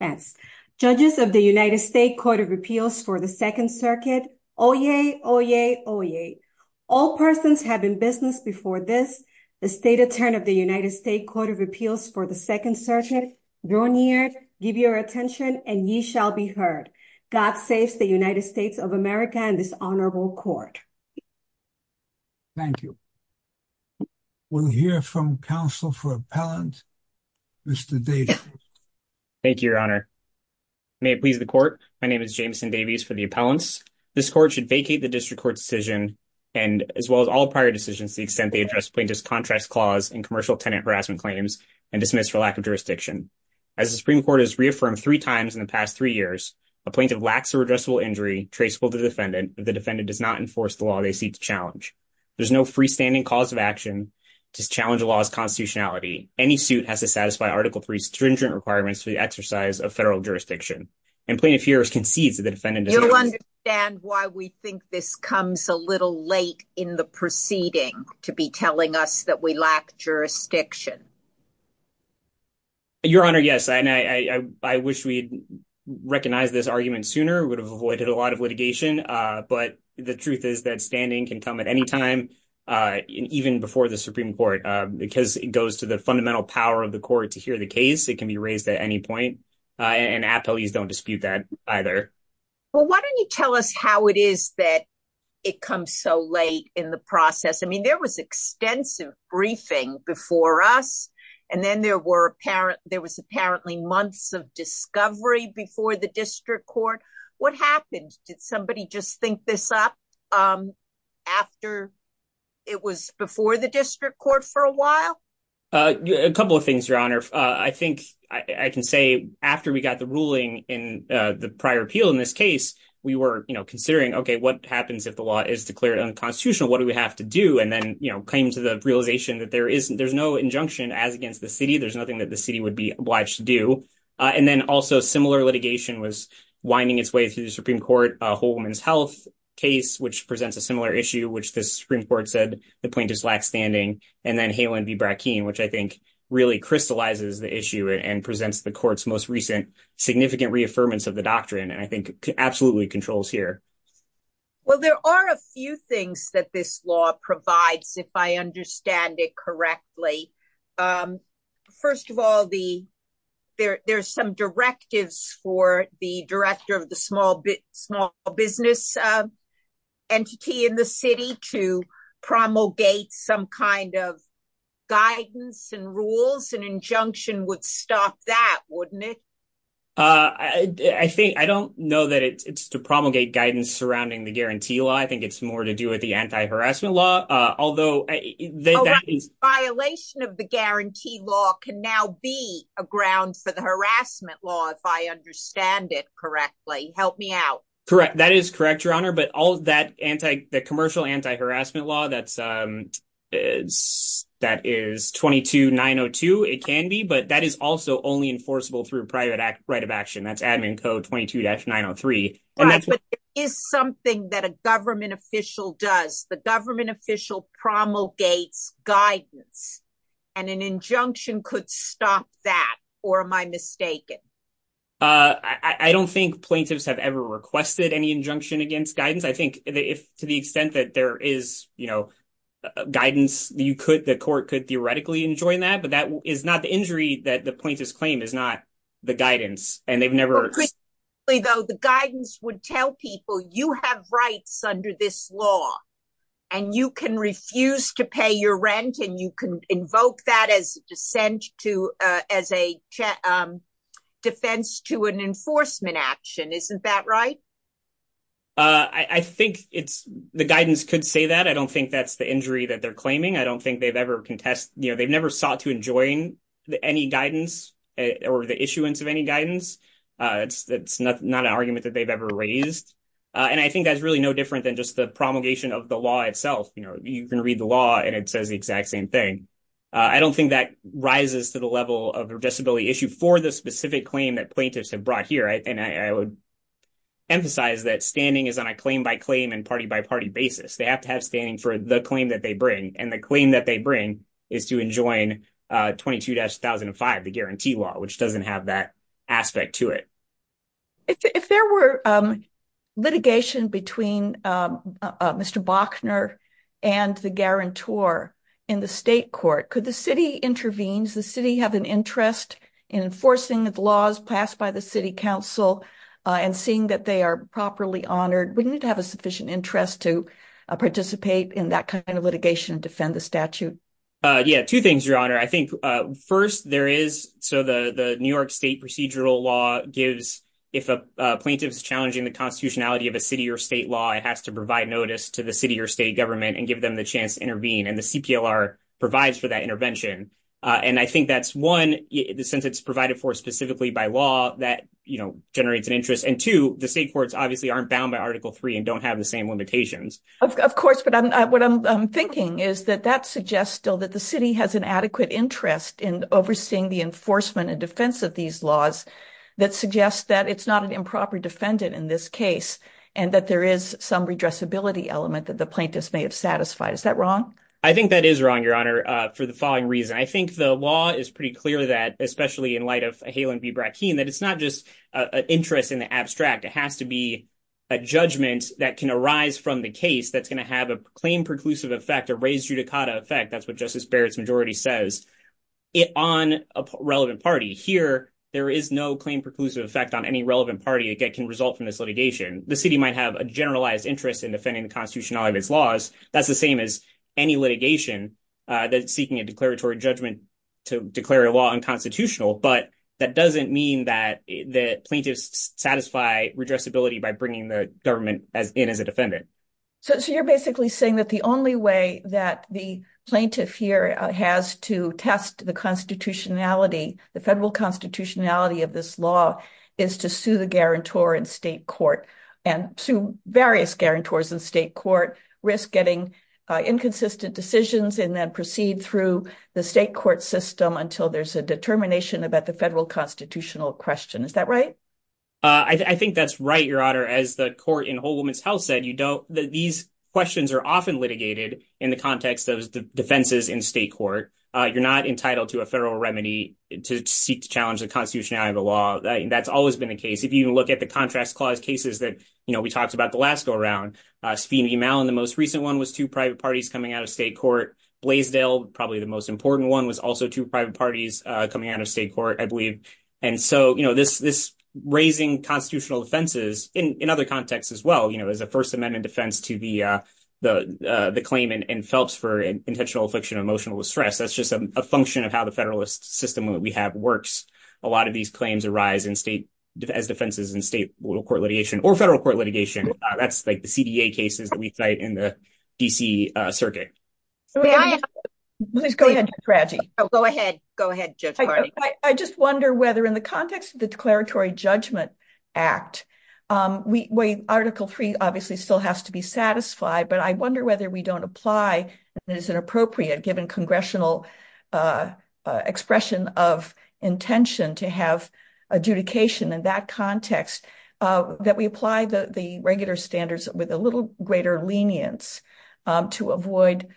Yes. Judges of the United States Court of Appeals for the Second Circuit, Oyez, Oyez, Oyez. All persons have in business before this, the State Attorney of the United States Court of Appeals for the Second Circuit, Brunier, give your attention and ye shall be heard. God saves the United States of America and this honorable court. Thank you. We'll hear from counsel for appellant, Mr. Davies. Thank you, your honor. May it please the court. My name is Jameson Davies for the appellants. This court should vacate the district court decision and as well as all prior decisions to the extent they address plaintiff's contract clause and commercial tenant harassment claims and dismiss for lack of jurisdiction. As the Supreme Court has reaffirmed three times in the past three years, a plaintiff lacks a redressable injury traceable to defendant if the defendant does not enforce the law they seek to challenge. There's no freestanding cause of action to challenge the law's constitutionality. Any suit has to satisfy article three stringent requirements for the exercise of federal jurisdiction and plaintiff here concedes that the defendant you'll understand why we think this comes a little late in the proceeding to be telling us that we lack jurisdiction. Your honor, yes and I wish we'd recognize this argument sooner would have avoided a lot of litigation but the truth is that standing can come at any time even before the Supreme Court because it goes to the fundamental power of the court to hear the case. It can be raised at any point and appellees don't dispute that either. Well why don't you tell us how it is that it comes so late in the process? I mean there was extensive briefing before us and then there was apparently months of discovery before the district court. What happened? Did somebody just think this up after it was before the district court for a while? A couple of things your honor. I think I can say after we got the ruling in the prior appeal in this case we were you know considering okay what happens if the law is declared unconstitutional what do we have to do and then you know came to the realization that there isn't there's no injunction as against the that the city would be obliged to do and then also similar litigation was winding its way through the Supreme Court a whole woman's health case which presents a similar issue which the Supreme Court said the plaintiff's lack standing and then Halen v Brackeen which I think really crystallizes the issue and presents the court's most recent significant reaffirmance of the doctrine and I think absolutely controls here. Well there are a few things that this law provides if I of all the there's some directives for the director of the small business entity in the city to promulgate some kind of guidance and rules an injunction would stop that wouldn't it? I think I don't know that it's to promulgate guidance surrounding the guarantee law I think it's more to do with the anti-harassment law although violation of the guarantee law can be a ground for the harassment law if I understand it correctly help me out. Correct that is correct your honor but all that anti the commercial anti-harassment law that's that is 22 902 it can be but that is also only enforceable through private right of action that's admin code 22-903. Right but it is something that a government does the government official promulgates guidance and an injunction could stop that or am I mistaken? I don't think plaintiffs have ever requested any injunction against guidance I think if to the extent that there is you know guidance you could the court could theoretically enjoin that but that is not the injury that the plaintiff's claim is not the guidance and they've have rights under this law and you can refuse to pay your rent and you can invoke that as descent to as a defense to an enforcement action isn't that right? I think it's the guidance could say that I don't think that's the injury that they're claiming I don't think they've ever contested you know they've never sought to enjoin any guidance or the issuance of any guidance it's not an raised and I think that's really no different than just the promulgation of the law itself you know you can read the law and it says the exact same thing I don't think that rises to the level of the disability issue for the specific claim that plaintiffs have brought here and I would emphasize that standing is on a claim by claim and party by party basis they have to have standing for the claim that they bring and the claim that they bring is to enjoin 22-005 the guarantee law which doesn't have that aspect to it. If there were litigation between Mr. Bochner and the guarantor in the state court could the city intervenes the city have an interest in enforcing the laws passed by the city council and seeing that they are properly honored wouldn't it have a sufficient interest to participate in that kind of litigation defend the statute? Yeah two things your honor I think first there is so the the New York state procedural law gives if a plaintiff's challenging the constitutionality of a city or state law it has to provide notice to the city or state government and give them the chance to intervene and the cplr provides for that intervention and I think that's one since it's provided for specifically by law that you know generates an interest and two the state courts obviously aren't bound by article three and don't have the same limitations. Of course but I'm what I'm thinking is that that suggests still that the has an adequate interest in overseeing the enforcement and defense of these laws that suggests that it's not an improper defendant in this case and that there is some redressability element that the plaintiffs may have satisfied. Is that wrong? I think that is wrong your honor for the following reason I think the law is pretty clear that especially in light of Halen v Brackeen that it's not just an interest in the abstract it has to be a judgment that can arise from the case that's going to have a claim preclusive effect a raised judicata effect that's justice Barrett's majority says it on a relevant party here there is no claim preclusive effect on any relevant party that can result from this litigation the city might have a generalized interest in defending the constitutionality of its laws that's the same as any litigation that's seeking a declaratory judgment to declare a law unconstitutional but that doesn't mean that that plaintiffs satisfy redressability by bringing the government as in as a defendant. So you're basically saying that the only way that the plaintiff here has to test the constitutionality the federal constitutionality of this law is to sue the guarantor in state court and to various guarantors in state court risk getting inconsistent decisions and then proceed through the state court system until there's a determination about the federal constitutional question is that right? I think that's right your honor as the court in Whole Woman's Health said these questions are often litigated in the context of the defenses in state court you're not entitled to a federal remedy to seek to challenge the constitutionality of the law that's always been the case if you even look at the contracts clause cases that you know we talked about the last go around Sphina E. Mallon the most recent one was two private parties coming out of state court Blaisdell probably the most important one was also two private parties coming out of state court I believe and so you know this raising constitutional defenses in other contexts as well you know as a first amendment defense to the claim in Phelps for intentional affliction of emotional distress that's just a function of how the federalist system that we have works a lot of these claims arise in state as defenses in state little court litigation or federal court litigation that's like the CDA cases that we cite in the DC circuit. Please go ahead. Go ahead. Go ahead Judge Hardy. I just wonder whether in the context of the declaratory judgment act we wait article three obviously still has to be satisfied but I wonder whether we don't apply that is an appropriate given congressional expression of intention to have adjudication in that context that we apply the the regular standards with a little greater lenience to avoid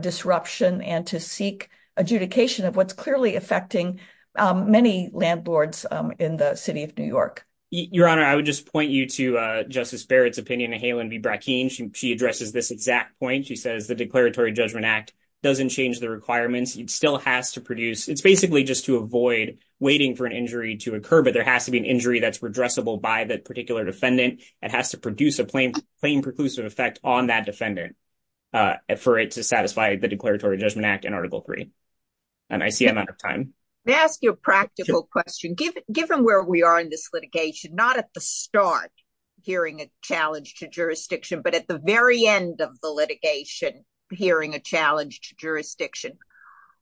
disruption and to seek adjudication of what's clearly affecting many landlords in the city of New York. Your honor I would just point you to Justice Barrett's opinion of Halen B. Brackeen she addresses this exact point she says the declaratory judgment act doesn't change the requirements it still has to produce it's basically just to avoid waiting for an injury to occur but there has to be an injury that's redressable by the particular defendant it has to produce a plain plain preclusive effect on that defendant for it to satisfy the declaratory judgment act in article three and I see I'm out of time. May I ask you a practical question given given where we are in this litigation not at the start hearing a challenge to jurisdiction but at the very end of the litigation hearing a challenge to jurisdiction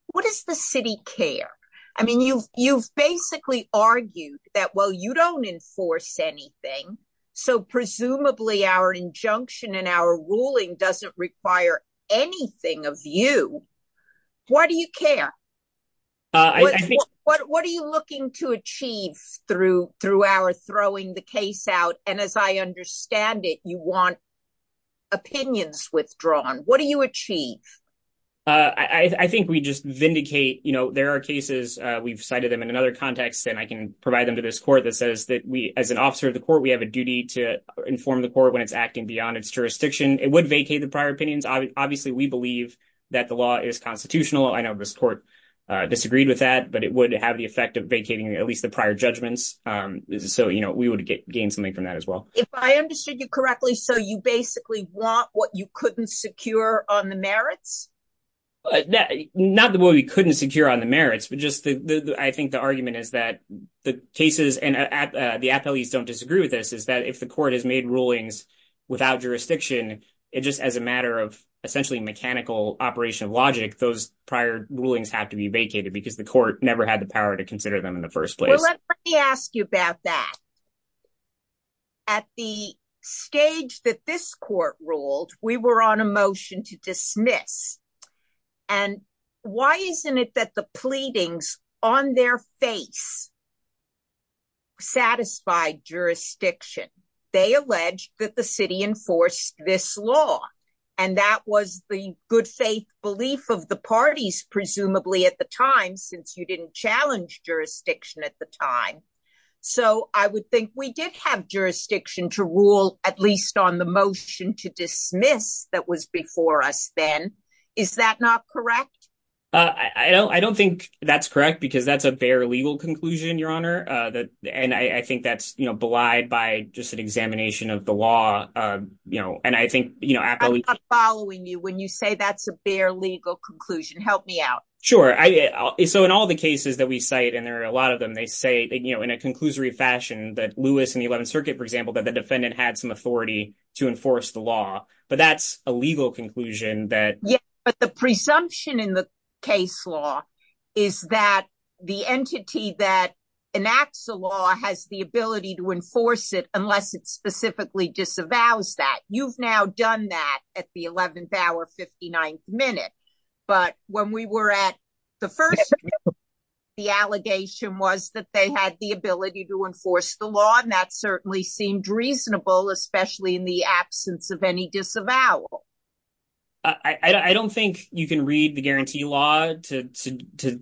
what does the city care? I mean you've you've basically argued that well you don't enforce anything so presumably our injunction and our ruling doesn't require anything of you why do you care what what are you looking to achieve through through our throwing the case out and as I understand it you want opinions withdrawn what do you achieve? I think we just vindicate you know there are cases we've cited them in another context and I can provide them to this court that says that we as an officer of the court we have a duty to inform the court when it's acting beyond its jurisdiction it would vacate the prior opinions obviously we believe that the law is constitutional I know this court uh disagreed with that but it would have the effect of vacating at least the prior judgments um so you know we would gain something from that as well. If I understood you correctly so you basically want what you couldn't secure on the merits? Not the way we couldn't secure on the merits but just the I think the argument is that the cases and at the appellees don't disagree with this is that if the court has made rulings without jurisdiction it just as a matter of essentially mechanical operation logic those prior rulings have to be vacated because the court never had the power to consider them in the first place. Well let me ask you about that at the stage that this court ruled we were on a motion to dismiss and why isn't it that the pleadings on their face satisfied jurisdiction they alleged that the city enforced this law and that was the good faith belief of the parties presumably at the time since you didn't challenge jurisdiction at the time so I would think we did have jurisdiction to rule at least on the motion to dismiss that was before us then is that not correct? I don't I don't think that's correct because that's a bare legal conclusion your honor uh that and I think that's you know belied by just an examination of the law uh you know and I think you know I'm not following you when you say that's a bare legal conclusion help me out sure I so in all the cases that we cite and there are a lot of them they say you know in a conclusory fashion that Lewis in the 11th circuit for example that the defendant had some authority to enforce the law but that's a legal conclusion that yeah but the presumption in the case law is that the entity that enacts the law has the ability to enforce it unless it specifically disavows that you've now done that at the 11th hour 59th minute but when we were at the first the allegation was that they had the ability to enforce the law and that certainly seemed reasonable especially in the absence of any disavowal I don't think you can read the guarantee law to to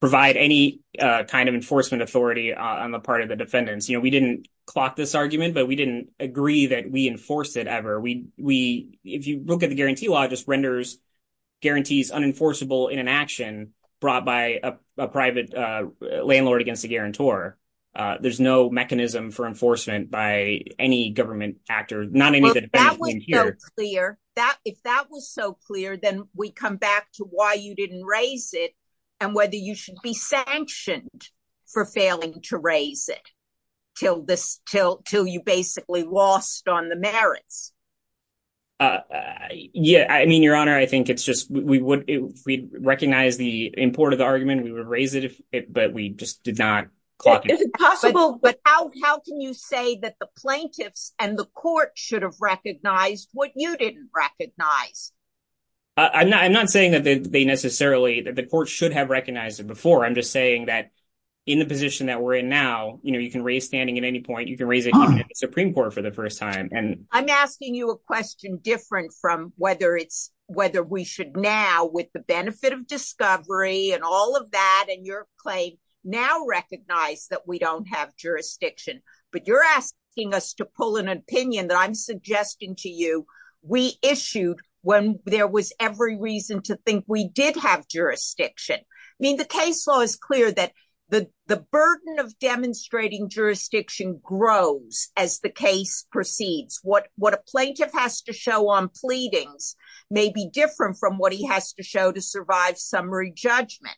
provide any uh kind of enforcement authority on the part of the defendants you know we didn't clock this argument but we didn't agree that we enforced it ever we we if you look at the guarantee law just renders guarantees unenforceable in an action brought by a by any government actor not any of the defense here clear that if that was so clear then we come back to why you didn't raise it and whether you should be sanctioned for failing to raise it till this till till you basically lost on the merits uh yeah I mean your honor I think it's just we would if we recognize the import of the argument we would raise it if it but we just did possible but how how can you say that the plaintiffs and the court should have recognized what you didn't recognize I'm not I'm not saying that they necessarily that the court should have recognized it before I'm just saying that in the position that we're in now you know you can raise standing at any point you can raise it even at the supreme court for the first time and I'm asking you a question different from whether it's whether we should now with the benefit of discovery and all of that and your claim now recognize that we don't have jurisdiction but you're asking us to pull an opinion that I'm suggesting to you we issued when there was every reason to think we did have jurisdiction I mean the case law is clear that the the burden of demonstrating jurisdiction grows as the case proceeds what what a plaintiff has to show on pleadings may be different from what he has to show to survive summary judgment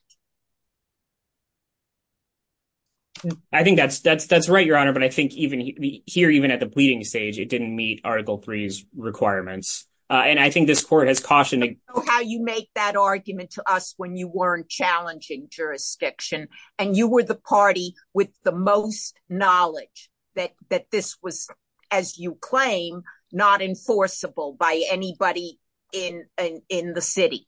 I think that's that's that's right your honor but I think even here even at the pleading stage it didn't meet article 3's requirements uh and I think this court has cautioned how you make that argument to us when you weren't challenging jurisdiction and you were the party with the most knowledge that that this was as you claim not enforceable by anybody in in the city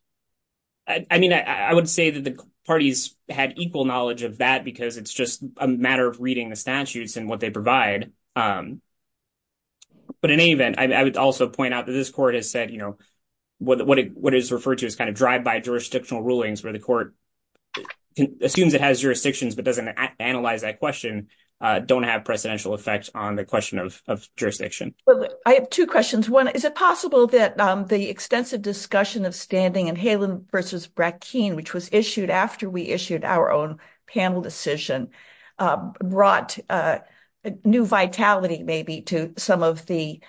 I mean I would say that the parties had equal knowledge of that because it's just a matter of reading the statutes and what they provide um but in any event I would also point out that this court has said you know what what is referred to as kind of drive-by jurisdictional rulings where the court assumes it has jurisdictions but doesn't analyze that question uh don't have on the question of jurisdiction well I have two questions one is it possible that um the extensive discussion of standing and Halen versus Brackeen which was issued after we issued our own panel decision brought a new vitality maybe to some of the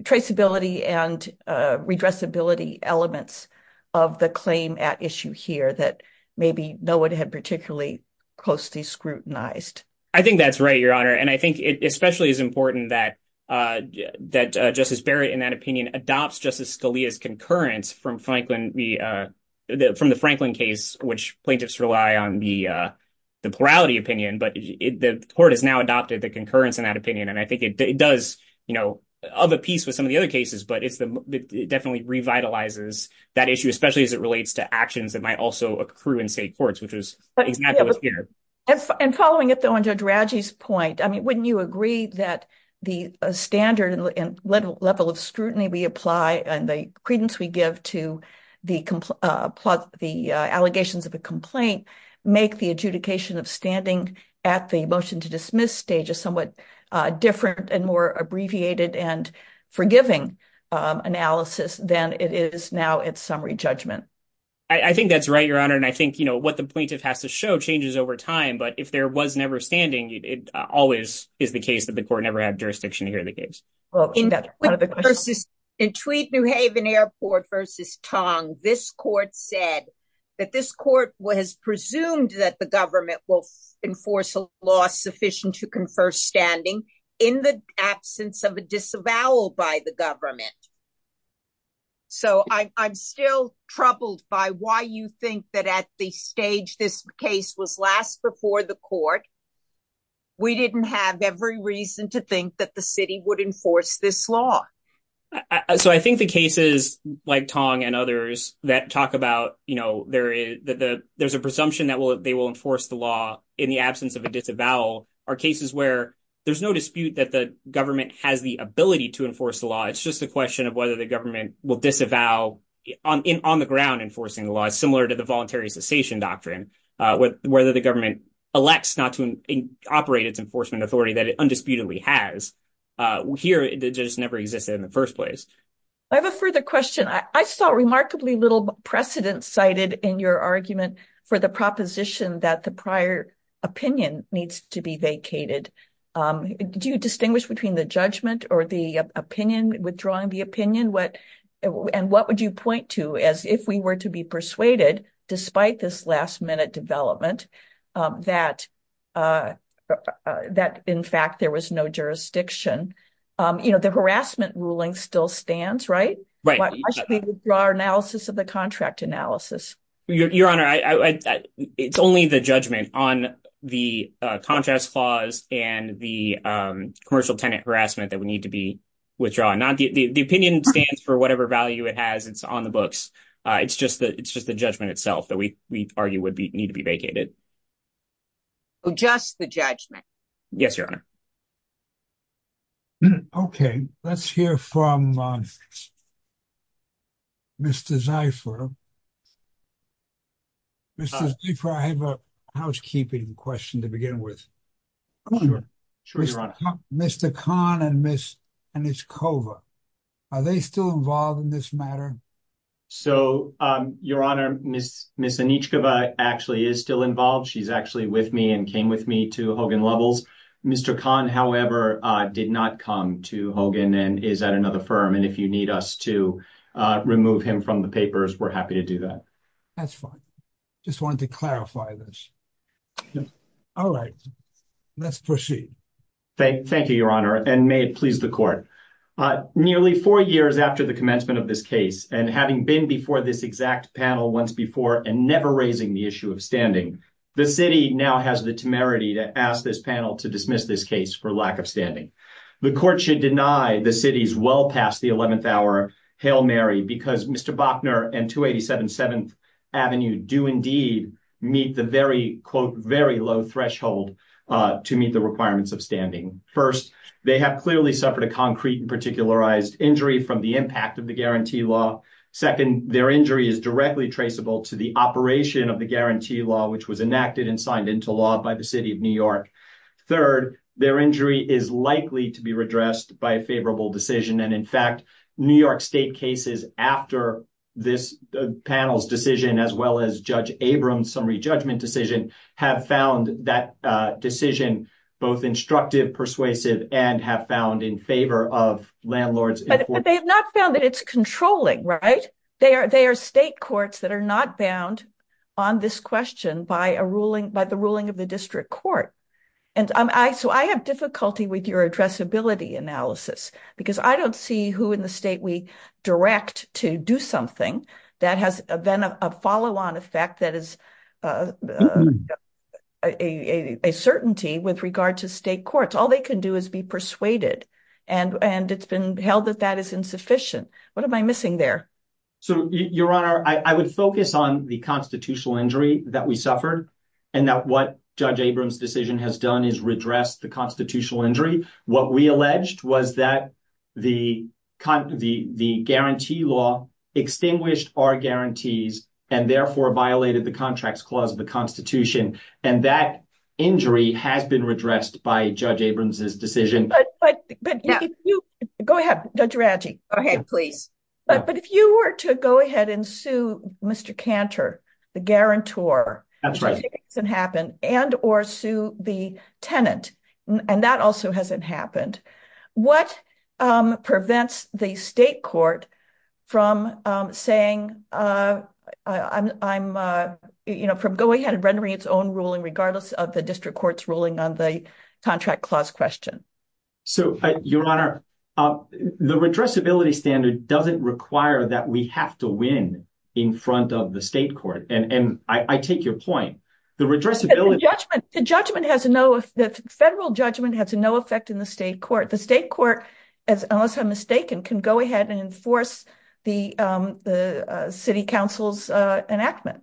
traceability and redressability elements of the claim at issue here that maybe no one had particularly closely scrutinized I think that's right your honor and I think it especially is important that uh that Justice Barrett in that opinion adopts Justice Scalia's concurrence from Franklin the uh from the Franklin case which plaintiffs rely on the uh the plurality opinion but the court has now adopted the concurrence in that opinion and I think it does you know of a piece with some of the other cases but it's the it definitely revitalizes that issue especially as it relates to actions that might also accrue in state courts which is exactly what's here and following it though on Judge Raggi's point I mean wouldn't you agree that the standard and level of scrutiny we apply and the credence we give to the uh allegations of a complaint make the adjudication of standing at the motion to dismiss stage a somewhat uh different and more abbreviated and forgiving um analysis than it is now at summary judgment I think that's right your honor and I think you know what the plaintiff has to show changes over time but if there was never standing it always is the case that the court never had jurisdiction to hear the case well in that versus in Tweed New Haven Airport versus Tong this court said that this court was presumed that the law sufficient to confer standing in the absence of a disavowal by the government so I'm still troubled by why you think that at the stage this case was last before the court we didn't have every reason to think that the city would enforce this law so I think the cases like Tong and others that talk about you know there is that the there's a presumption that will they will enforce the law in the absence of a disavowal are cases where there's no dispute that the government has the ability to enforce the law it's just a question of whether the government will disavow on in on the ground enforcing the law is similar to the voluntary cessation doctrine uh with whether the government elects not to operate its enforcement authority that it undisputedly has uh here it just never existed in the first place I have a further question I saw remarkably little precedent cited in your argument for the proposition that the prior opinion needs to be vacated do you distinguish between the judgment or the opinion withdrawing the opinion what and what would you point to as if we were to be persuaded despite this last minute development that uh that in fact there was no jurisdiction um you know the harassment ruling still stands right draw analysis of the contract analysis your honor I it's only the judgment on the contrast clause and the um commercial tenant harassment that we need to be withdrawing not the the opinion stands for whatever value it has it's on the books uh it's just that it's just the judgment itself that we we argue would be need to be vacated just the judgment yes your honor um okay let's hear from um Mr. Zeifer Mr. Zeifer I have a housekeeping question to begin with Mr. Kahn and Ms. Anichkova are they still involved in this matter so um your honor Ms. Ms. Anichkova actually is still involved she's actually with me and came with me to Hogan Mr. Kahn however uh did not come to Hogan and is at another firm and if you need us to uh remove him from the papers we're happy to do that that's fine just wanted to clarify this all right let's proceed thank you your honor and may it please the court uh nearly four years after the commencement of this case and having been before this exact panel once before and never raising the issue of standing the city now has the temerity to ask this panel to dismiss this case for lack of standing the court should deny the city's well past the 11th hour hail mary because Mr. Bochner and 287 7th avenue do indeed meet the very quote very low threshold uh to meet the requirements of standing first they have clearly suffered a concrete and particularized from the impact of the guarantee law second their injury is directly traceable to the operation of the guarantee law which was enacted and signed into law by the city of new york third their injury is likely to be redressed by a favorable decision and in fact new york state cases after this panel's decision as well as judge abrams summary judgment decision have found that uh persuasive and have found in favor of landlords but they have not found that it's controlling right they are they are state courts that are not bound on this question by a ruling by the ruling of the district court and i so i have difficulty with your addressability analysis because i don't see who in the state we direct to do something that has been a follow-on effect that is uh a a certainty with regard to state courts all they can do is be persuaded and and it's been held that that is insufficient what am i missing there so your honor i would focus on the constitutional injury that we suffered and that what judge abrams decision has done is redress the constitutional injury what we alleged was that the con the the guarantee law extinguished our guarantees and therefore violated the contracts clause of the constitution and that injury has been redressed by judge abrams's decision but but if you go ahead judge ranchi okay please but but if you were to go ahead and sue mr canter the guarantor that's right doesn't happen and or sue the tenant and that also hasn't happened what um saying uh i'm i'm uh you know from going ahead and rendering its own ruling regardless of the district court's ruling on the contract clause question so your honor uh the redressability standard doesn't require that we have to win in front of the state court and and i i take your point the redressability judgment the judgment has no the federal judgment has no effect in the city council's enactment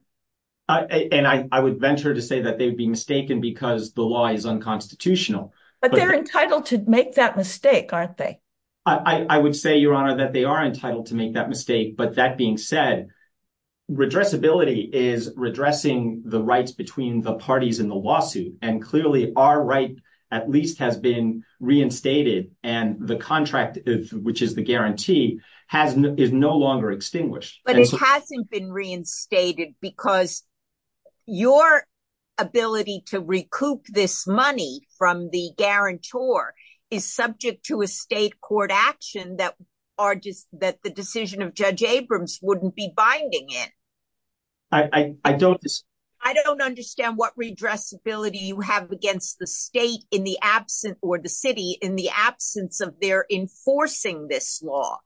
and i i would venture to say that they would be mistaken because the law is unconstitutional but they're entitled to make that mistake aren't they i i would say your honor that they are entitled to make that mistake but that being said redressability is redressing the rights between the parties in the lawsuit and clearly our right at least has been reinstated and the contract which is the guarantee has is no longer extinguished but it hasn't been reinstated because your ability to recoup this money from the guarantor is subject to a state court action that are just that the decision of judge abrams wouldn't be binding in i i don't i don't understand what redressability you have against the state in the absent or the in the absence of their enforcing this law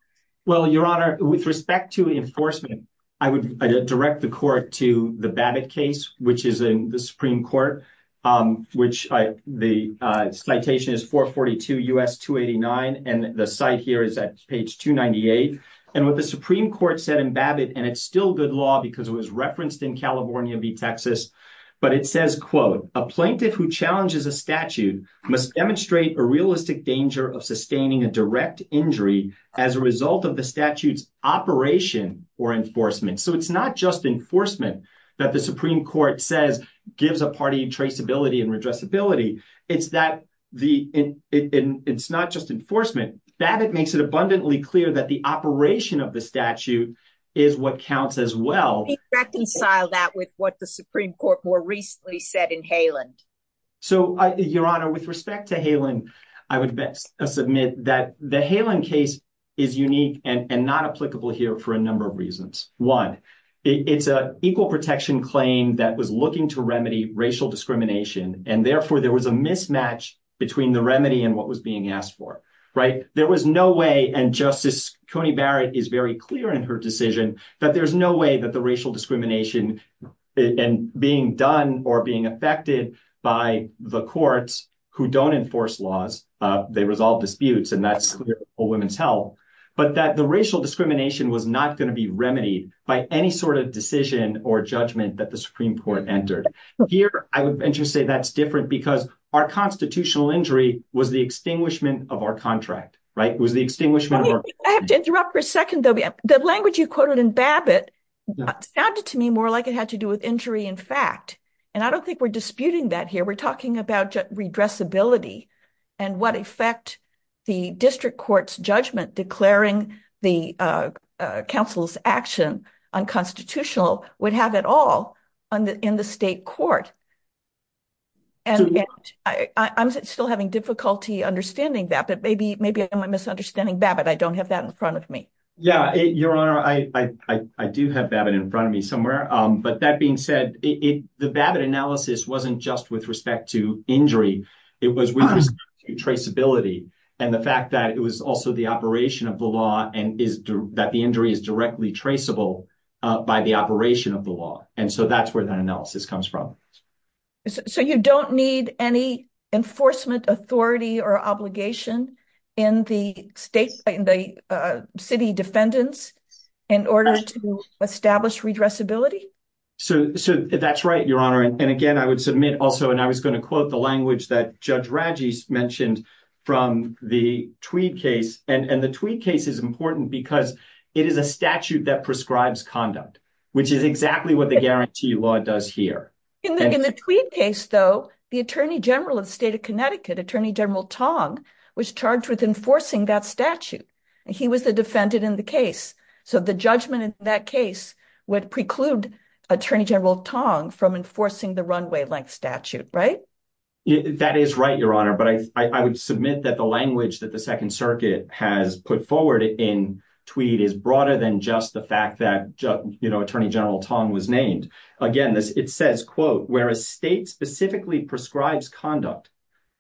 well your honor with respect to enforcement i would direct the court to the babbit case which is in the supreme court um which i the citation is 442 us 289 and the site here is at page 298 and what the supreme court said in babbit and it's still good law because it was referenced in california v texas but it says quote a plaintiff who of sustaining a direct injury as a result of the statute's operation or enforcement so it's not just enforcement that the supreme court says gives a party traceability and redressability it's that the in it's not just enforcement that it makes it abundantly clear that the operation of the statute is what counts as well reconcile that with what the supreme court more recently said in halen so your honor with respect to halen i would submit that the halen case is unique and not applicable here for a number of reasons one it's a equal protection claim that was looking to remedy racial discrimination and therefore there was a mismatch between the remedy and what was being asked for right there was no way and justice coney barrett is very clear that there's no way that the racial discrimination and being done or being affected by the courts who don't enforce laws uh they resolve disputes and that's a woman's health but that the racial discrimination was not going to be remedied by any sort of decision or judgment that the supreme court entered here i would venture say that's different because our constitutional injury was the extinguishment of our contract right was the extinguishment i have to interrupt for a minute the language you quoted in babbitt sounded to me more like it had to do with injury in fact and i don't think we're disputing that here we're talking about redressability and what effect the district court's judgment declaring the uh council's action unconstitutional would have it all on the in the state court and i i'm still having difficulty understanding that but maybe maybe i'm misunderstanding babbitt i don't have that in front of me yeah your honor i i i do have babbitt in front of me somewhere um but that being said it the babbitt analysis wasn't just with respect to injury it was with traceability and the fact that it was also the operation of the law and is that the injury is directly traceable uh by the operation of the law and so that's where analysis comes from so you don't need any enforcement authority or obligation in the state in the uh city defendants in order to establish redressability so so that's right your honor and again i would submit also and i was going to quote the language that judge ragis mentioned from the tweed case and and the tweet case is important because it is a statute that does here in the tweed case though the attorney general of the state of connecticut attorney general tong was charged with enforcing that statute and he was the defendant in the case so the judgment in that case would preclude attorney general tong from enforcing the runway length statute right that is right your honor but i i would submit that the language that the second circuit has put forward in tweed is broader than just the fact that you know attorney general tong was named again this it says quote where a state specifically prescribes conduct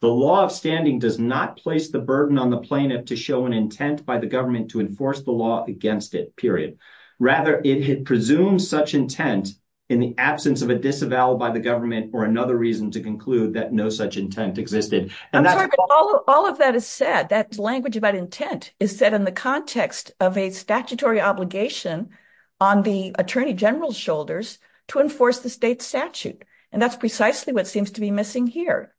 the law of standing does not place the burden on the plaintiff to show an intent by the government to enforce the law against it period rather it had presumed such intent in the absence of a disavowal by the government or another reason to conclude that no such intent existed and that's all of that is said that language about intent is said in the context of a statutory obligation on the attorney general's shoulders to enforce the state statute and that's precisely what seems to be missing here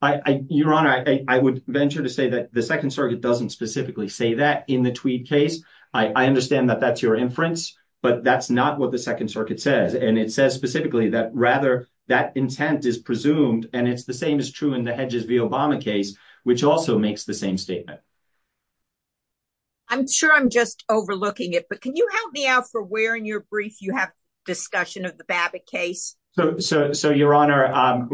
i i your honor i i would venture to say that the second circuit doesn't specifically say that in the tweed case i i understand that that's your inference but that's not what the second circuit says and it says specifically that rather that intent is presumed and it's the same as true in the hedges v obama case which also makes the same statement i'm sure i'm just overlooking it but can you help me out for where in your brief you have discussion of the babbit case so so so your honor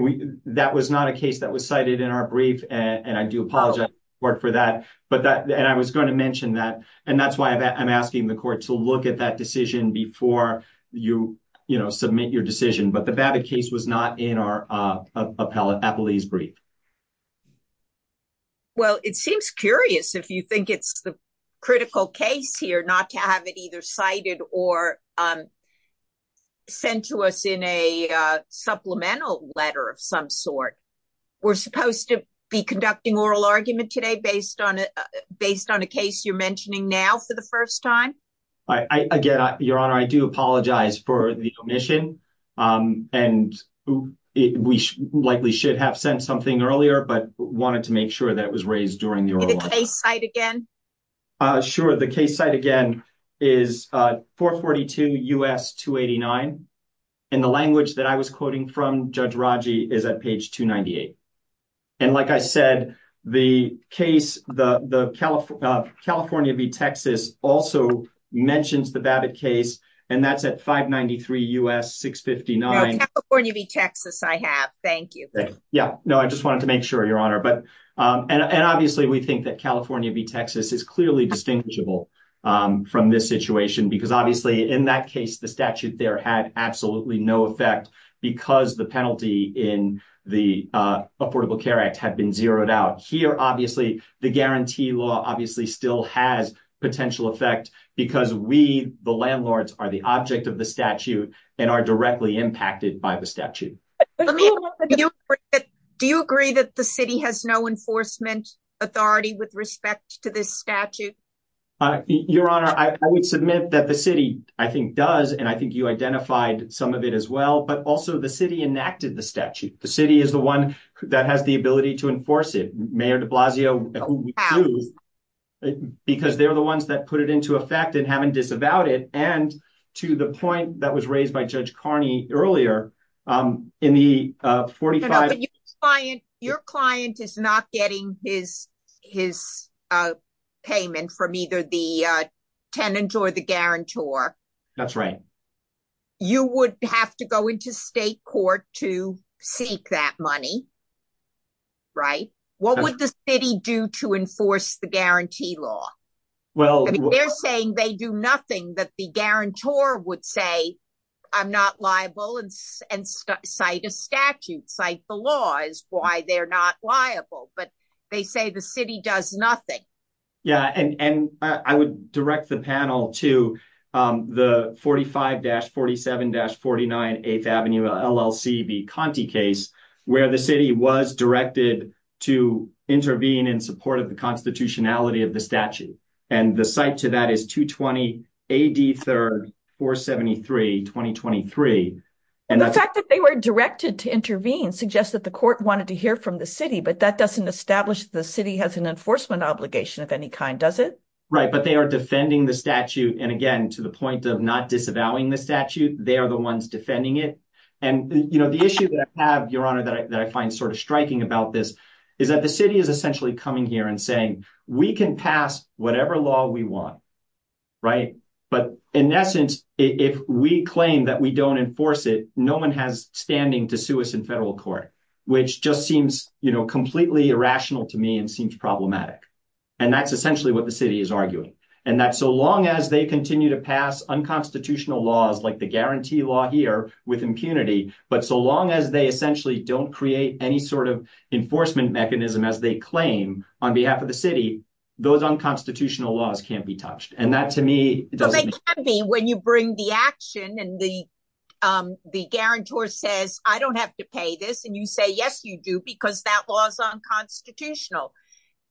that was not a case that was cited in our brief and i do apologize for that but that and i was going to mention that and that's why i'm asking the court to look at that decision before you you know submit your decision but the babbit case was not in our uh appellate appellee's brief well it seems curious if you think it's the critical case here not to have it either cited or sent to us in a uh supplemental letter of some sort we're supposed to be conducting oral argument today based on it based on a case you're mentioning now for the first time i i again your honor i do apologize for the omission um and we likely should have sent something earlier but wanted to make sure that was raised during the oral case site again uh sure the case site again is uh 442 us 289 and the language that i was quoting from judge raji is at page 298 and like i said the case the the california v texas also mentions the babbit case and that's at 593 us 659 california v texas i have thank you yeah no i just wanted to make sure your honor but um and and obviously we think that california v texas is clearly distinguishable um from this situation because obviously in that case the statute there had absolutely no effect because the penalty in the uh affordable care act had been zeroed out here obviously the guarantee law obviously still has potential effect because we the landlords are the object of the statute and are directly impacted by the statute do you agree that the city has no enforcement authority with respect to this statute uh your honor i would submit that the city i think does and i think you identified some of it as well but also the city enacted the statute the city is the one that has the ability to enforce it mayor de blasio because they're the ones that put it into effect and haven't disavowed it and to the point that was raised by judge carney earlier um in the uh 45 client your client is not getting his his uh the uh tenant or the guarantor that's right you would have to go into state court to seek that money right what would the city do to enforce the guarantee law well they're saying they do nothing that the guarantor would say i'm not liable and and cite a statute cite the law is why they're not liable but they say the city does nothing yeah and and i would direct the panel to um the 45-47-49 8th avenue llcb conti case where the city was directed to intervene in support of the constitutionality of the statute and the site to that is 220 ad 3rd 473 2023 and the fact that they were directed to intervene suggests that the court wanted to hear from the city but that doesn't establish the city has an enforcement obligation of any kind does it right but they are defending the statute and again to the point of not disavowing the statute they are the ones defending it and you know the issue that i have your honor that i find sort of striking about this is that the city is essentially coming here and saying we can pass whatever law we right but in essence if we claim that we don't enforce it no one has standing to sue us in federal court which just seems you know completely irrational to me and seems problematic and that's essentially what the city is arguing and that so long as they continue to pass unconstitutional laws like the guarantee law here with impunity but so long as they essentially don't create any sort of enforcement mechanism as they claim on behalf of the city those unconstitutional laws can't be touched and that to me but they can be when you bring the action and the um the guarantor says i don't have to pay this and you say yes you do because that law is unconstitutional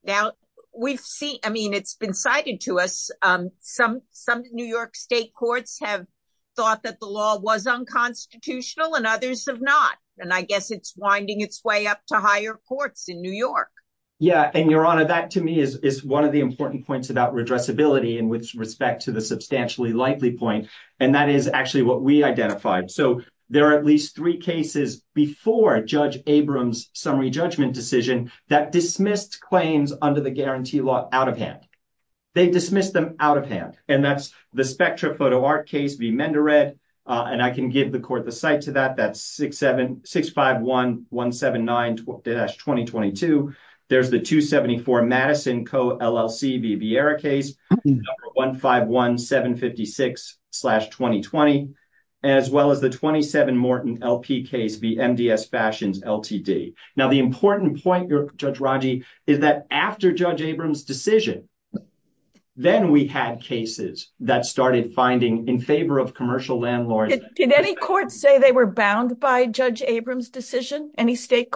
now we've seen i mean it's been cited to us um some some new york state courts have thought that the law was unconstitutional and others have not and i guess it's winding its way up to higher courts in new york yeah and your honor that to me is is one of the important points about addressability and with respect to the substantially likely point and that is actually what we identified so there are at least three cases before judge abrams summary judgment decision that dismissed claims under the guarantee law out of hand they dismissed them out of hand and that's the spectra photo art case v mendered and i can give the court the site to that that's six seven 151 756 2020 as well as the 27 morton lp case v mds fashions ltd now the important point your judge raji is that after judge abrams decision then we had cases that started finding in favor of commercial landlords did any court say they were bound by judge abrams decision any state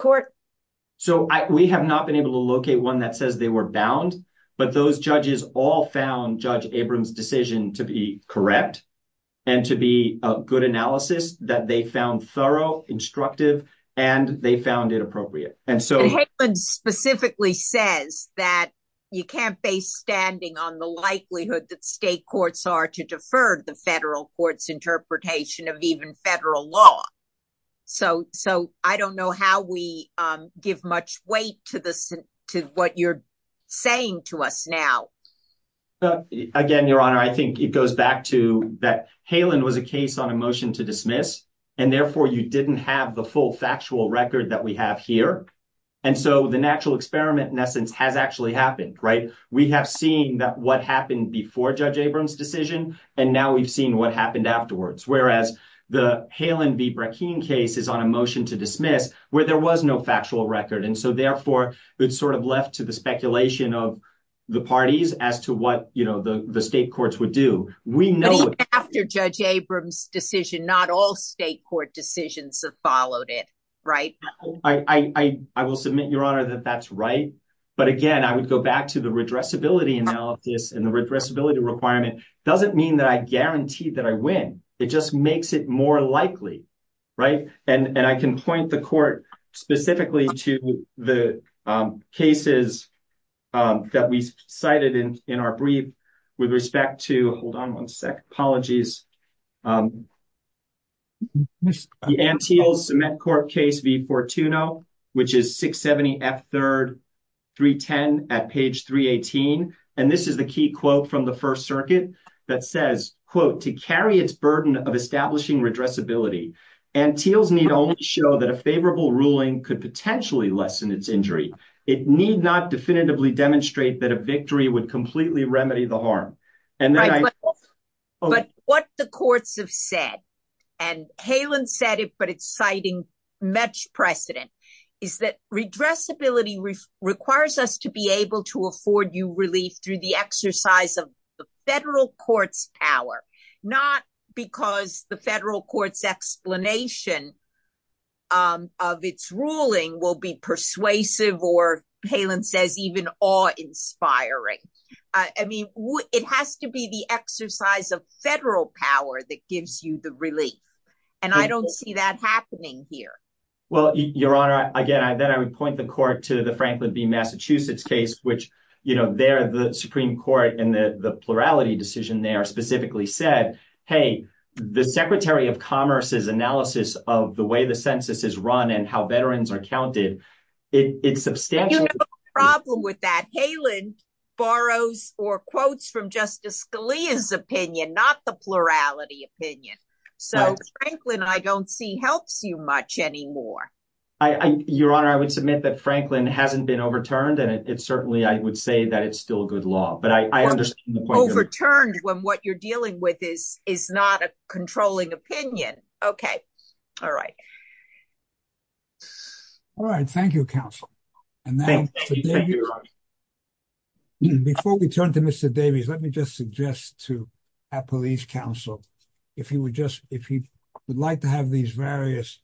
so i we have not been able to locate one that says they were bound but those judges all found judge abrams decision to be correct and to be a good analysis that they found thorough instructive and they found it appropriate and so hayden specifically says that you can't base standing on the likelihood that state courts are to defer the federal court's interpretation of even federal law so so i don't know how we um give much weight to this to what you're saying to us now again your honor i think it goes back to that halen was a case on a motion to dismiss and therefore you didn't have the full factual record that we have here and so the natural experiment in essence has actually happened right we have seen that what happened before judge the halen v bracken case is on a motion to dismiss where there was no factual record and so therefore it's sort of left to the speculation of the parties as to what you know the the state courts would do we know after judge abrams decision not all state court decisions have followed it right i i will submit your honor that that's right but again i would go back to the redressability analysis and the redressability requirement doesn't mean that i guarantee that i win it just makes it more likely right and and i can point the court specifically to the cases that we cited in in our brief with respect to hold on one sec apologies the anteos cement court case v portuno which is 670 f 3rd 310 at page 318 and this is the key quote from the first circuit that says quote to carry its burden of establishing redressability and teals need only show that a favorable ruling could potentially lessen its injury it need not definitively demonstrate that a victory would completely remedy the harm and then but what the courts have said and halen said it but it's citing much precedent is that redressability requires us to be able to afford you relief through the exercise of the federal court's power not because the federal court's explanation of its ruling will be persuasive or halen says even awe inspiring i mean it has to be the exercise of federal power that gives you the relief and i don't see that happening here well your honor again i then i would point the court to the franklin v massachusetts case which you know there the supreme court and the the plurality decision there specifically said hey the secretary of commerce's analysis of the way the census is run and how veterans are counted it's substantial problem with that halen borrows or quotes from justice scalia's opinion not the your honor i would submit that franklin hasn't been overturned and it certainly i would say that it's still a good law but i i understand the point overturned when what you're dealing with is is not a controlling opinion okay all right all right thank you counsel and then before we turn to mr davies let me just suggest to our police counsel if he would just if he would like to have these various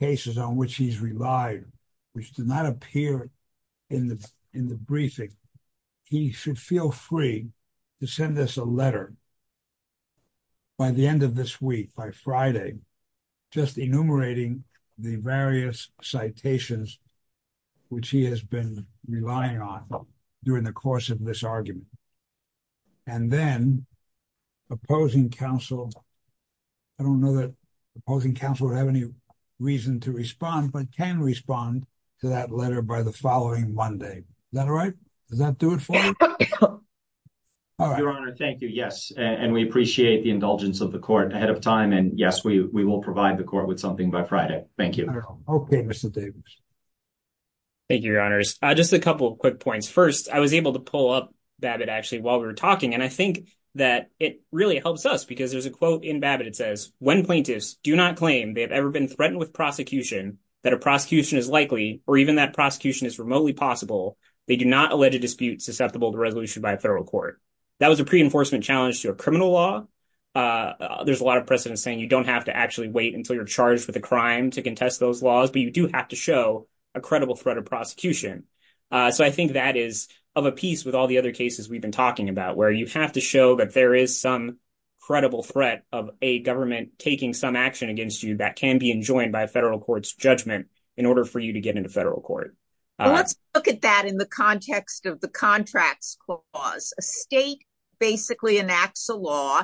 cases on which he's relied which did not appear in the in the briefing he should feel free to send us a letter by the end of this week by friday just enumerating the various citations which he has been relying on during the course of this argument and then opposing counsel i don't know that opposing counsel would have any reason to respond but can respond to that letter by the following monday is that all right does that do it for you your honor thank you yes and we appreciate the indulgence of the court ahead of time and yes we we will provide the court with something by friday thank you okay mr davis thank you your honors uh just a couple of quick points first i was able to pull up babbit actually while we were talking and i think that it really helps us because there's a quote in babbit it says when plaintiffs do not claim they have ever been threatened with prosecution that a prosecution is likely or even that prosecution is remotely possible they do not allege a dispute susceptible to resolution by a federal court that was a pre-enforcement challenge to a criminal law uh there's a lot of precedent saying you don't have to actually wait until you're charged with a crime to contest those laws but you do have to show a credible threat of prosecution so i think that is of a piece with all the other cases we've been talking about where you have to show that there is some credible threat of a government taking some action against you that can be enjoined by a federal court's judgment in order for you to get into federal court let's look at that in the context of the contracts clause a state basically enacts a law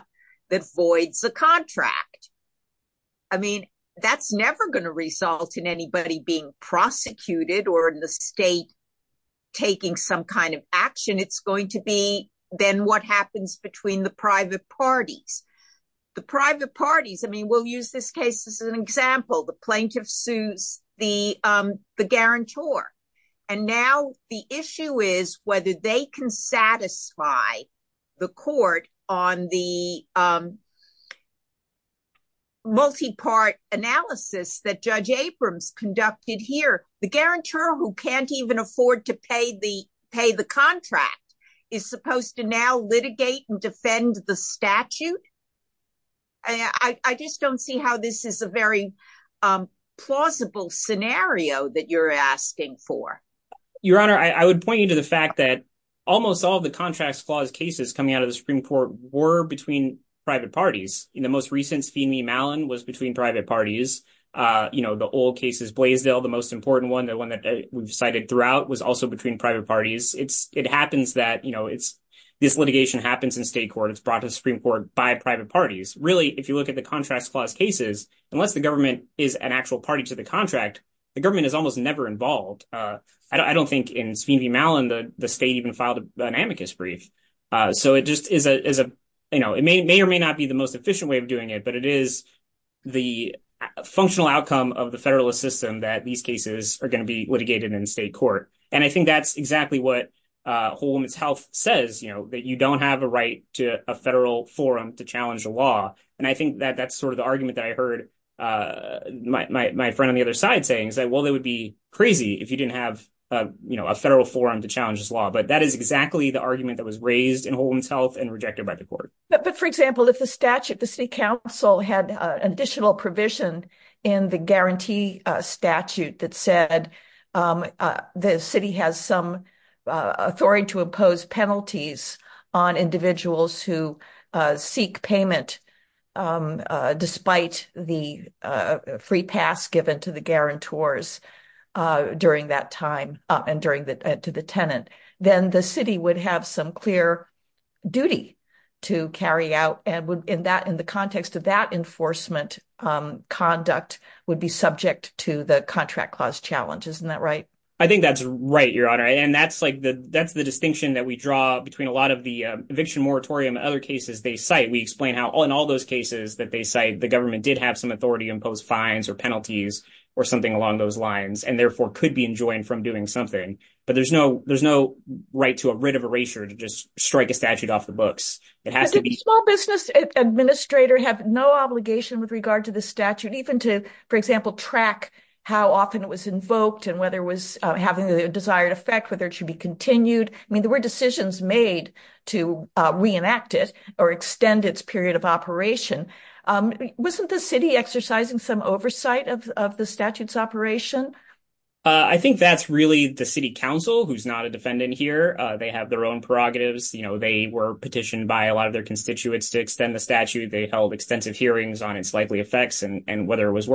that voids the contract i mean that's never going to result in anybody being prosecuted or in the state taking some kind of action it's going to be then what happens between the private parties the private parties i mean we'll use this case as an example the plaintiff sues the um the guarantor and now the issue is whether they can satisfy the court on the um multi-part analysis that judge aprams conducted here the guarantor who can't even afford to pay the pay the contract is supposed to now litigate and defend the statute i i just don't see how this is a very um plausible scenario that you're asking for your honor i would point you to the fact that almost all the contracts clause cases coming out of the supreme court were between private parties in the most recent steamy mallon was between private parties uh you know the old cases blaisdell the most important one the one that we've cited throughout was also between private parties it's it happens that you know it's this litigation happens in state court it's contracts clause cases unless the government is an actual party to the contract the government is almost never involved uh i don't think in speedy mallon the the state even filed an amicus brief uh so it just is a is a you know it may or may not be the most efficient way of doing it but it is the functional outcome of the federalist system that these cases are going to be litigated in state court and i think that's exactly what uh woman's health says you know that you don't have a right to a federal forum to challenge the law and i think that that's sort of the argument that i heard uh my my friend on the other side saying is that well they would be crazy if you didn't have a you know a federal forum to challenge this law but that is exactly the argument that was raised in holman's health and rejected by the court but for example if the statute the city council had an additional provision in the guarantee uh statute that said um the city has some authority to impose penalties on individuals who uh seek payment um uh despite the uh free pass given to the guarantors uh during that time uh and during the to the tenant then the city would have some clear duty to carry out and would in that in the context of that enforcement um conduct would be subject to the contract clause challenge isn't that right i think that's right honor and that's like the that's the distinction that we draw between a lot of the eviction moratorium other cases they cite we explain how in all those cases that they cite the government did have some authority impose fines or penalties or something along those lines and therefore could be enjoined from doing something but there's no there's no right to a writ of erasure to just strike a statute off the books it has to be small business administrator have no obligation with regard to the statute even to for example track how often it was invoked and whether it was having a desired effect whether it should be continued i mean there were decisions made to reenact it or extend its period of operation um wasn't the city exercising some oversight of the statutes operation uh i think that's really the city council who's not a defendant here uh they have their own prerogatives you know they were petitioned by a lot of their constituents to extend the statute they held extensive hearings on its likely effects and and whether it was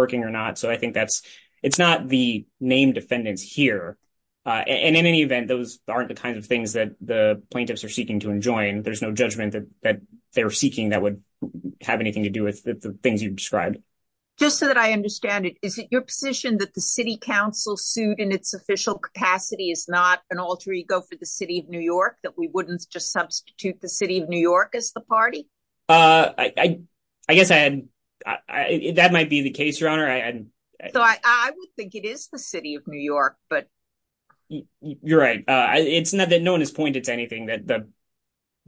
uh and in any event those aren't the kinds of things that the plaintiffs are seeking to enjoin there's no judgment that that they're seeking that would have anything to do with the things you've described just so that i understand it is it your position that the city council sued in its official capacity is not an alter ego for the city of new york that we wouldn't just substitute the city of new york as the party uh i i guess i had i that might be the case your honor i i thought i would think it is the city of new york but you're right uh it's not that no one has pointed to anything that the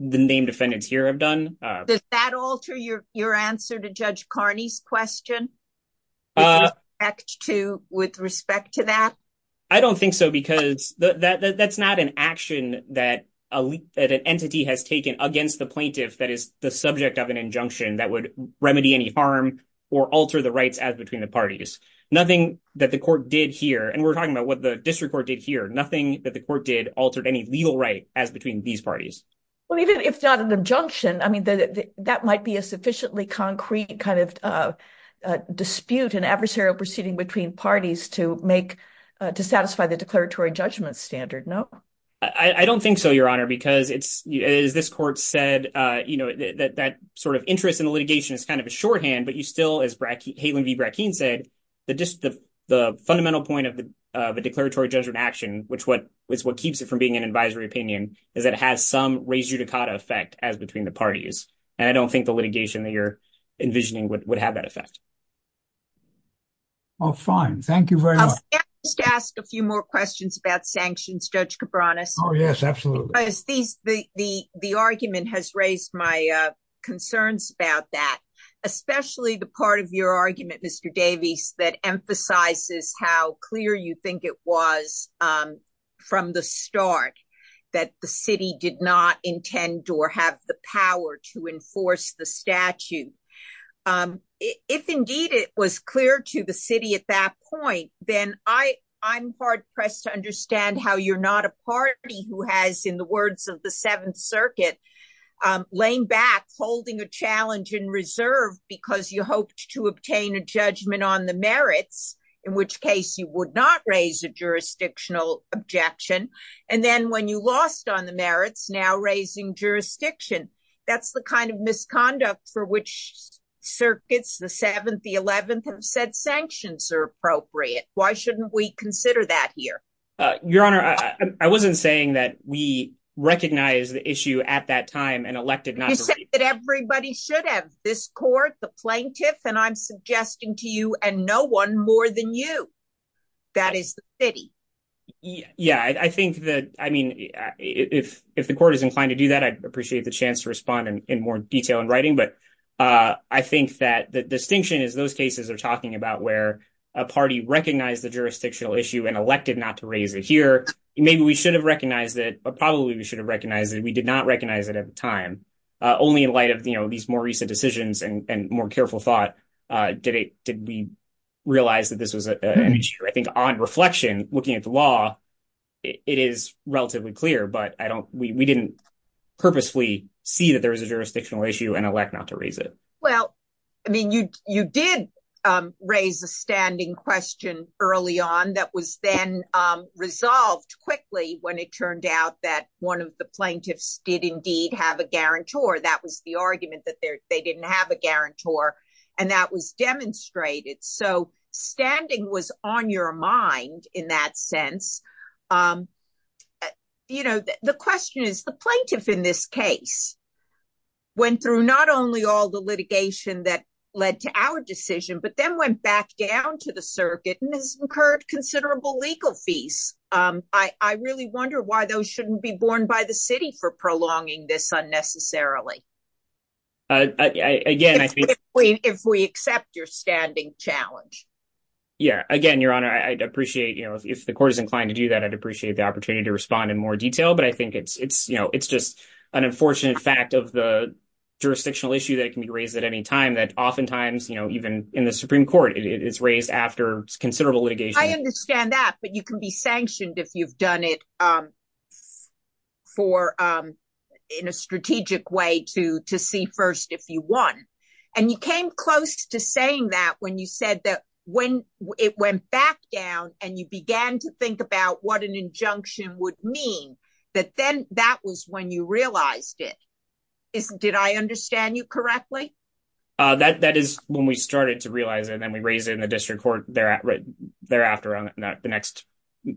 the named defendants here have done uh does that alter your your answer to judge carney's question uh x2 with respect to that i don't think so because that that's not an action that elite that an entity has taken against the plaintiff that is the subject of an injunction that would remedy any harm or alter the rights as between the parties nothing that the court did here and we're talking about what the district court did here nothing that the court did altered any legal right as between these parties well even if not an injunction i mean that that might be a sufficiently concrete kind of uh uh dispute an adversarial proceeding between parties to make uh to satisfy the declaratory judgment standard no i i don't think so your honor because it's as this court said uh you know that that sort of interest in the litigation is kind of a shorthand but you still as hayden v bracken said that just the the fundamental point of the uh the declaratory judgment action which what is what keeps it from being an advisory opinion is that it has some raise your dakota effect as between the parties and i don't think the litigation that you're envisioning would have that effect oh fine thank you very much just ask a few more questions about sanctions judge cabranas oh yes absolutely these the the the argument has raised my uh concerns about that especially the part of your argument mr davies that emphasizes how clear you think it was um from the start that the city did not intend or have the power to enforce the statute um if indeed it was clear to the city at that point then i i'm hard-pressed to understand how you're not a party who has in the words of the seventh circuit um laying back holding a challenge in reserve because you hoped to obtain a judgment on the merits in which case you would not raise a jurisdictional objection and then when you lost on the merits now raising jurisdiction that's the kind of misconduct for which circuits the seventh the 11th have said sanctions are appropriate why shouldn't we consider that here uh your honor i wasn't saying that we recognize the issue at that time and elected not that everybody should have this court the plaintiff and i'm suggesting to you and no one more than you that is the city yeah i think that i mean if if the court is inclined to do that i'd appreciate the chance in more detail in writing but uh i think that the distinction is those cases are talking about where a party recognized the jurisdictional issue and elected not to raise it here maybe we should have recognized it but probably we should have recognized that we did not recognize it at the time uh only in light of you know these more recent decisions and and more careful thought uh did it did we realize that this was an issue i think on reflection looking at the law it is relatively clear but i don't we we didn't purposefully see that there was a jurisdictional issue and elect not to raise it well i mean you you did um raise a standing question early on that was then um resolved quickly when it turned out that one of the plaintiffs did indeed have a guarantor that was the argument that they didn't have a guarantor and that was demonstrated so standing was on your mind in that sense um you know the question is the plaintiff in this case went through not only all the litigation that led to our decision but then went back down to the circuit and has incurred considerable legal fees um i i really wonder why those shouldn't be borne by the city for prolonging this unnecessarily uh again if we accept your yeah again your honor i'd appreciate you know if the court is inclined to do that i'd appreciate the opportunity to respond in more detail but i think it's it's you know it's just an unfortunate fact of the jurisdictional issue that can be raised at any time that oftentimes you know even in the supreme court it's raised after considerable litigation i understand that but you can be sanctioned if you've done it um for um in a strategic way to to see first if you won and you came close to saying that when you said that when it went back down and you began to think about what an injunction would mean that then that was when you realized it is did i understand you correctly uh that that is when we started to realize and then we raised it in the district court thereafter on the next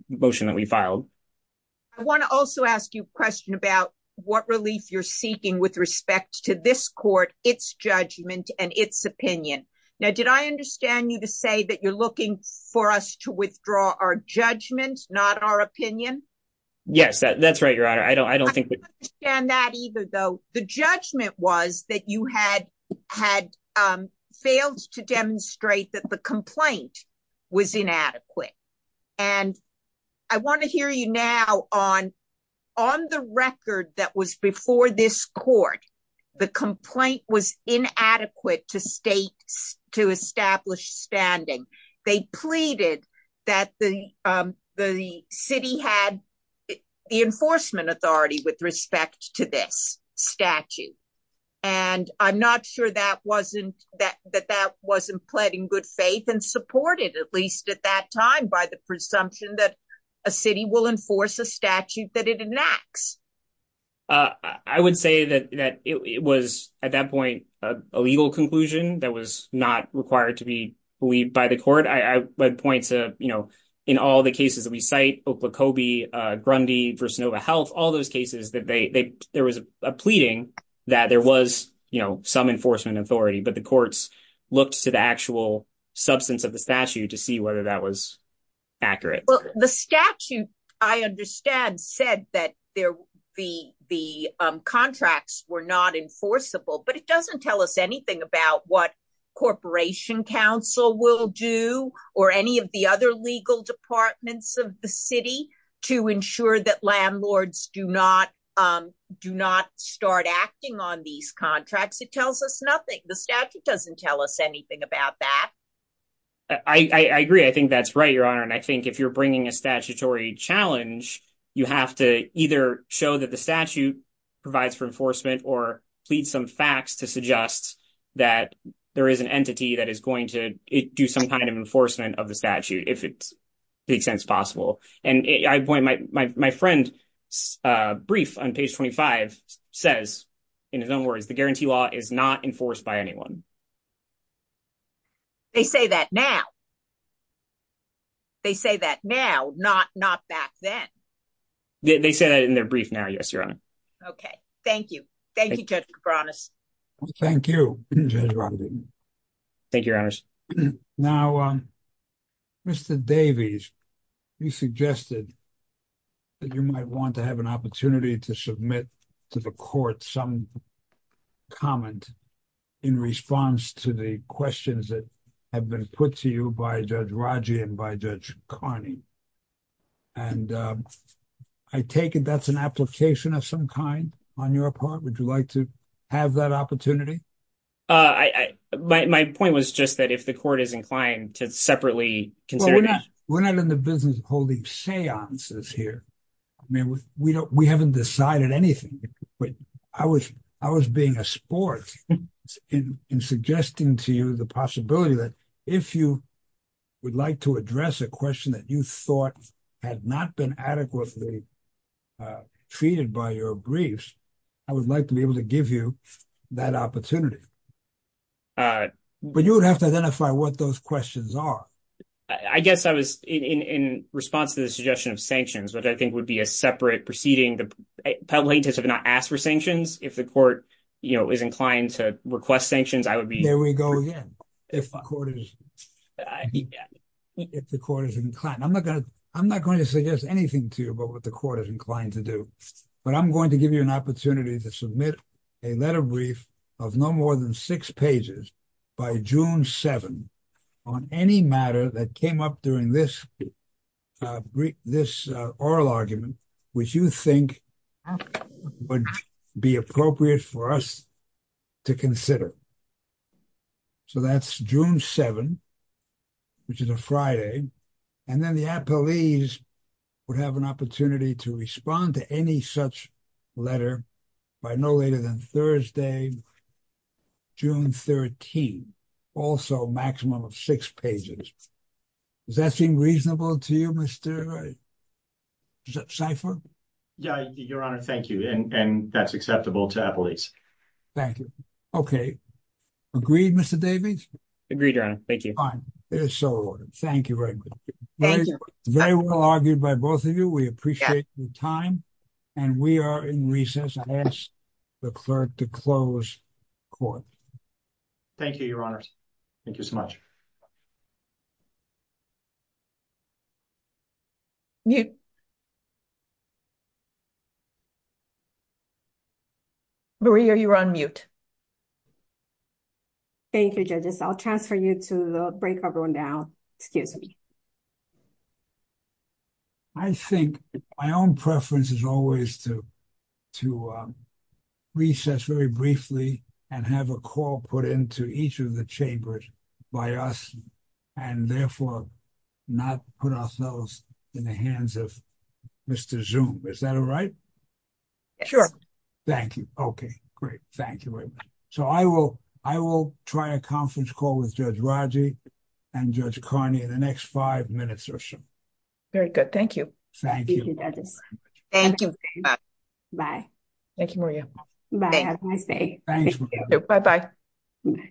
motion that we filed i want to also ask you a question about what relief you're seeking with respect to this court its judgment and its opinion now did i understand you to say that you're looking for us to withdraw our judgment not our opinion yes that that's right your honor i don't i don't think we understand that either though the judgment was that you had had um failed to demonstrate that the complaint was inadequate and i want to hear you now on on the record that was before this court the complaint was inadequate to state to establish standing they pleaded that the um the city had the enforcement authority with respect to this statute and i'm not sure that wasn't that that that wasn't pled in good faith and supported at least at that time by the presumption that a city will enforce a statute that it enacts uh i would say that that it was at that point a legal conclusion that was not required to be believed by the court i i would point to you know in all the cases that we cite oklahoma uh grundy for sonova health all those cases that they there was a pleading that there was you know some whether that was accurate well the statute i understand said that there the the um contracts were not enforceable but it doesn't tell us anything about what corporation council will do or any of the other legal departments of the city to ensure that landlords do not um do not start acting on these contracts it tells us nothing the statute doesn't tell us anything about that i i agree i think that's right your honor and i think if you're bringing a statutory challenge you have to either show that the statute provides for enforcement or plead some facts to suggest that there is an entity that is going to do some kind of enforcement of the statute if it makes sense possible and i point my my friend uh brief on page 25 says in his own words the they say that now they say that now not not back then they say that in their brief now yes your honor okay thank you thank you judge cabranas thank you thank you your honors now uh mr davies you suggested that you might want to have an opportunity to submit to the court some comment in response to the questions that have been put to you by judge raji and by judge carney and i take it that's an application of some kind on your part would you like to have that opportunity uh i i my point was just that if the court is inclined to separately consider we're not in the business of holding seances here i mean we don't we haven't decided anything but i was i was being a sport in suggesting to you the possibility that if you would like to address a question that you thought had not been adequately treated by your briefs i would like to be able to give you that opportunity uh but you would have to identify what those questions are i guess i was in in response to the suggestion of sanctions which i think would be a separate proceeding the plaintiffs have not asked for sanctions if the court you know is inclined to request sanctions i would be there we go again if the court is inclined i'm not gonna i'm not going to suggest anything to you about what the court is inclined to do but i'm going to give you an opportunity to submit a letter brief of no more than six pages by june 7 on any matter that came up during this uh brief this oral argument which you think would be appropriate for us to consider so that's june 7 which is a friday and then the appellees would have an opportunity to respond to any such letter by no later than thursday june 13 also maximum of six pages does that seem reasonable to you mr cypher yeah your honor thank you and and that's acceptable to appellees thank you okay agreed mr davis agreed your honor thank you fine there's so thank you very good very well argued by both of you we appreciate your time and we are in recess i ask the clerk to close court thank you your honors thank you so much you maria you're on mute you're on mute thank you judges i'll transfer you to the break everyone down excuse me i think my own preference is always to to recess very briefly and have a call put into each of the chambers by us and therefore not put ourselves in the hands of mr zoom is that all right sure thank you okay great thank you very much so i will i will try a conference call with judge raji and judge carney in the next five minutes or so very good thank you thank you thank you bye thank you maria bye bye you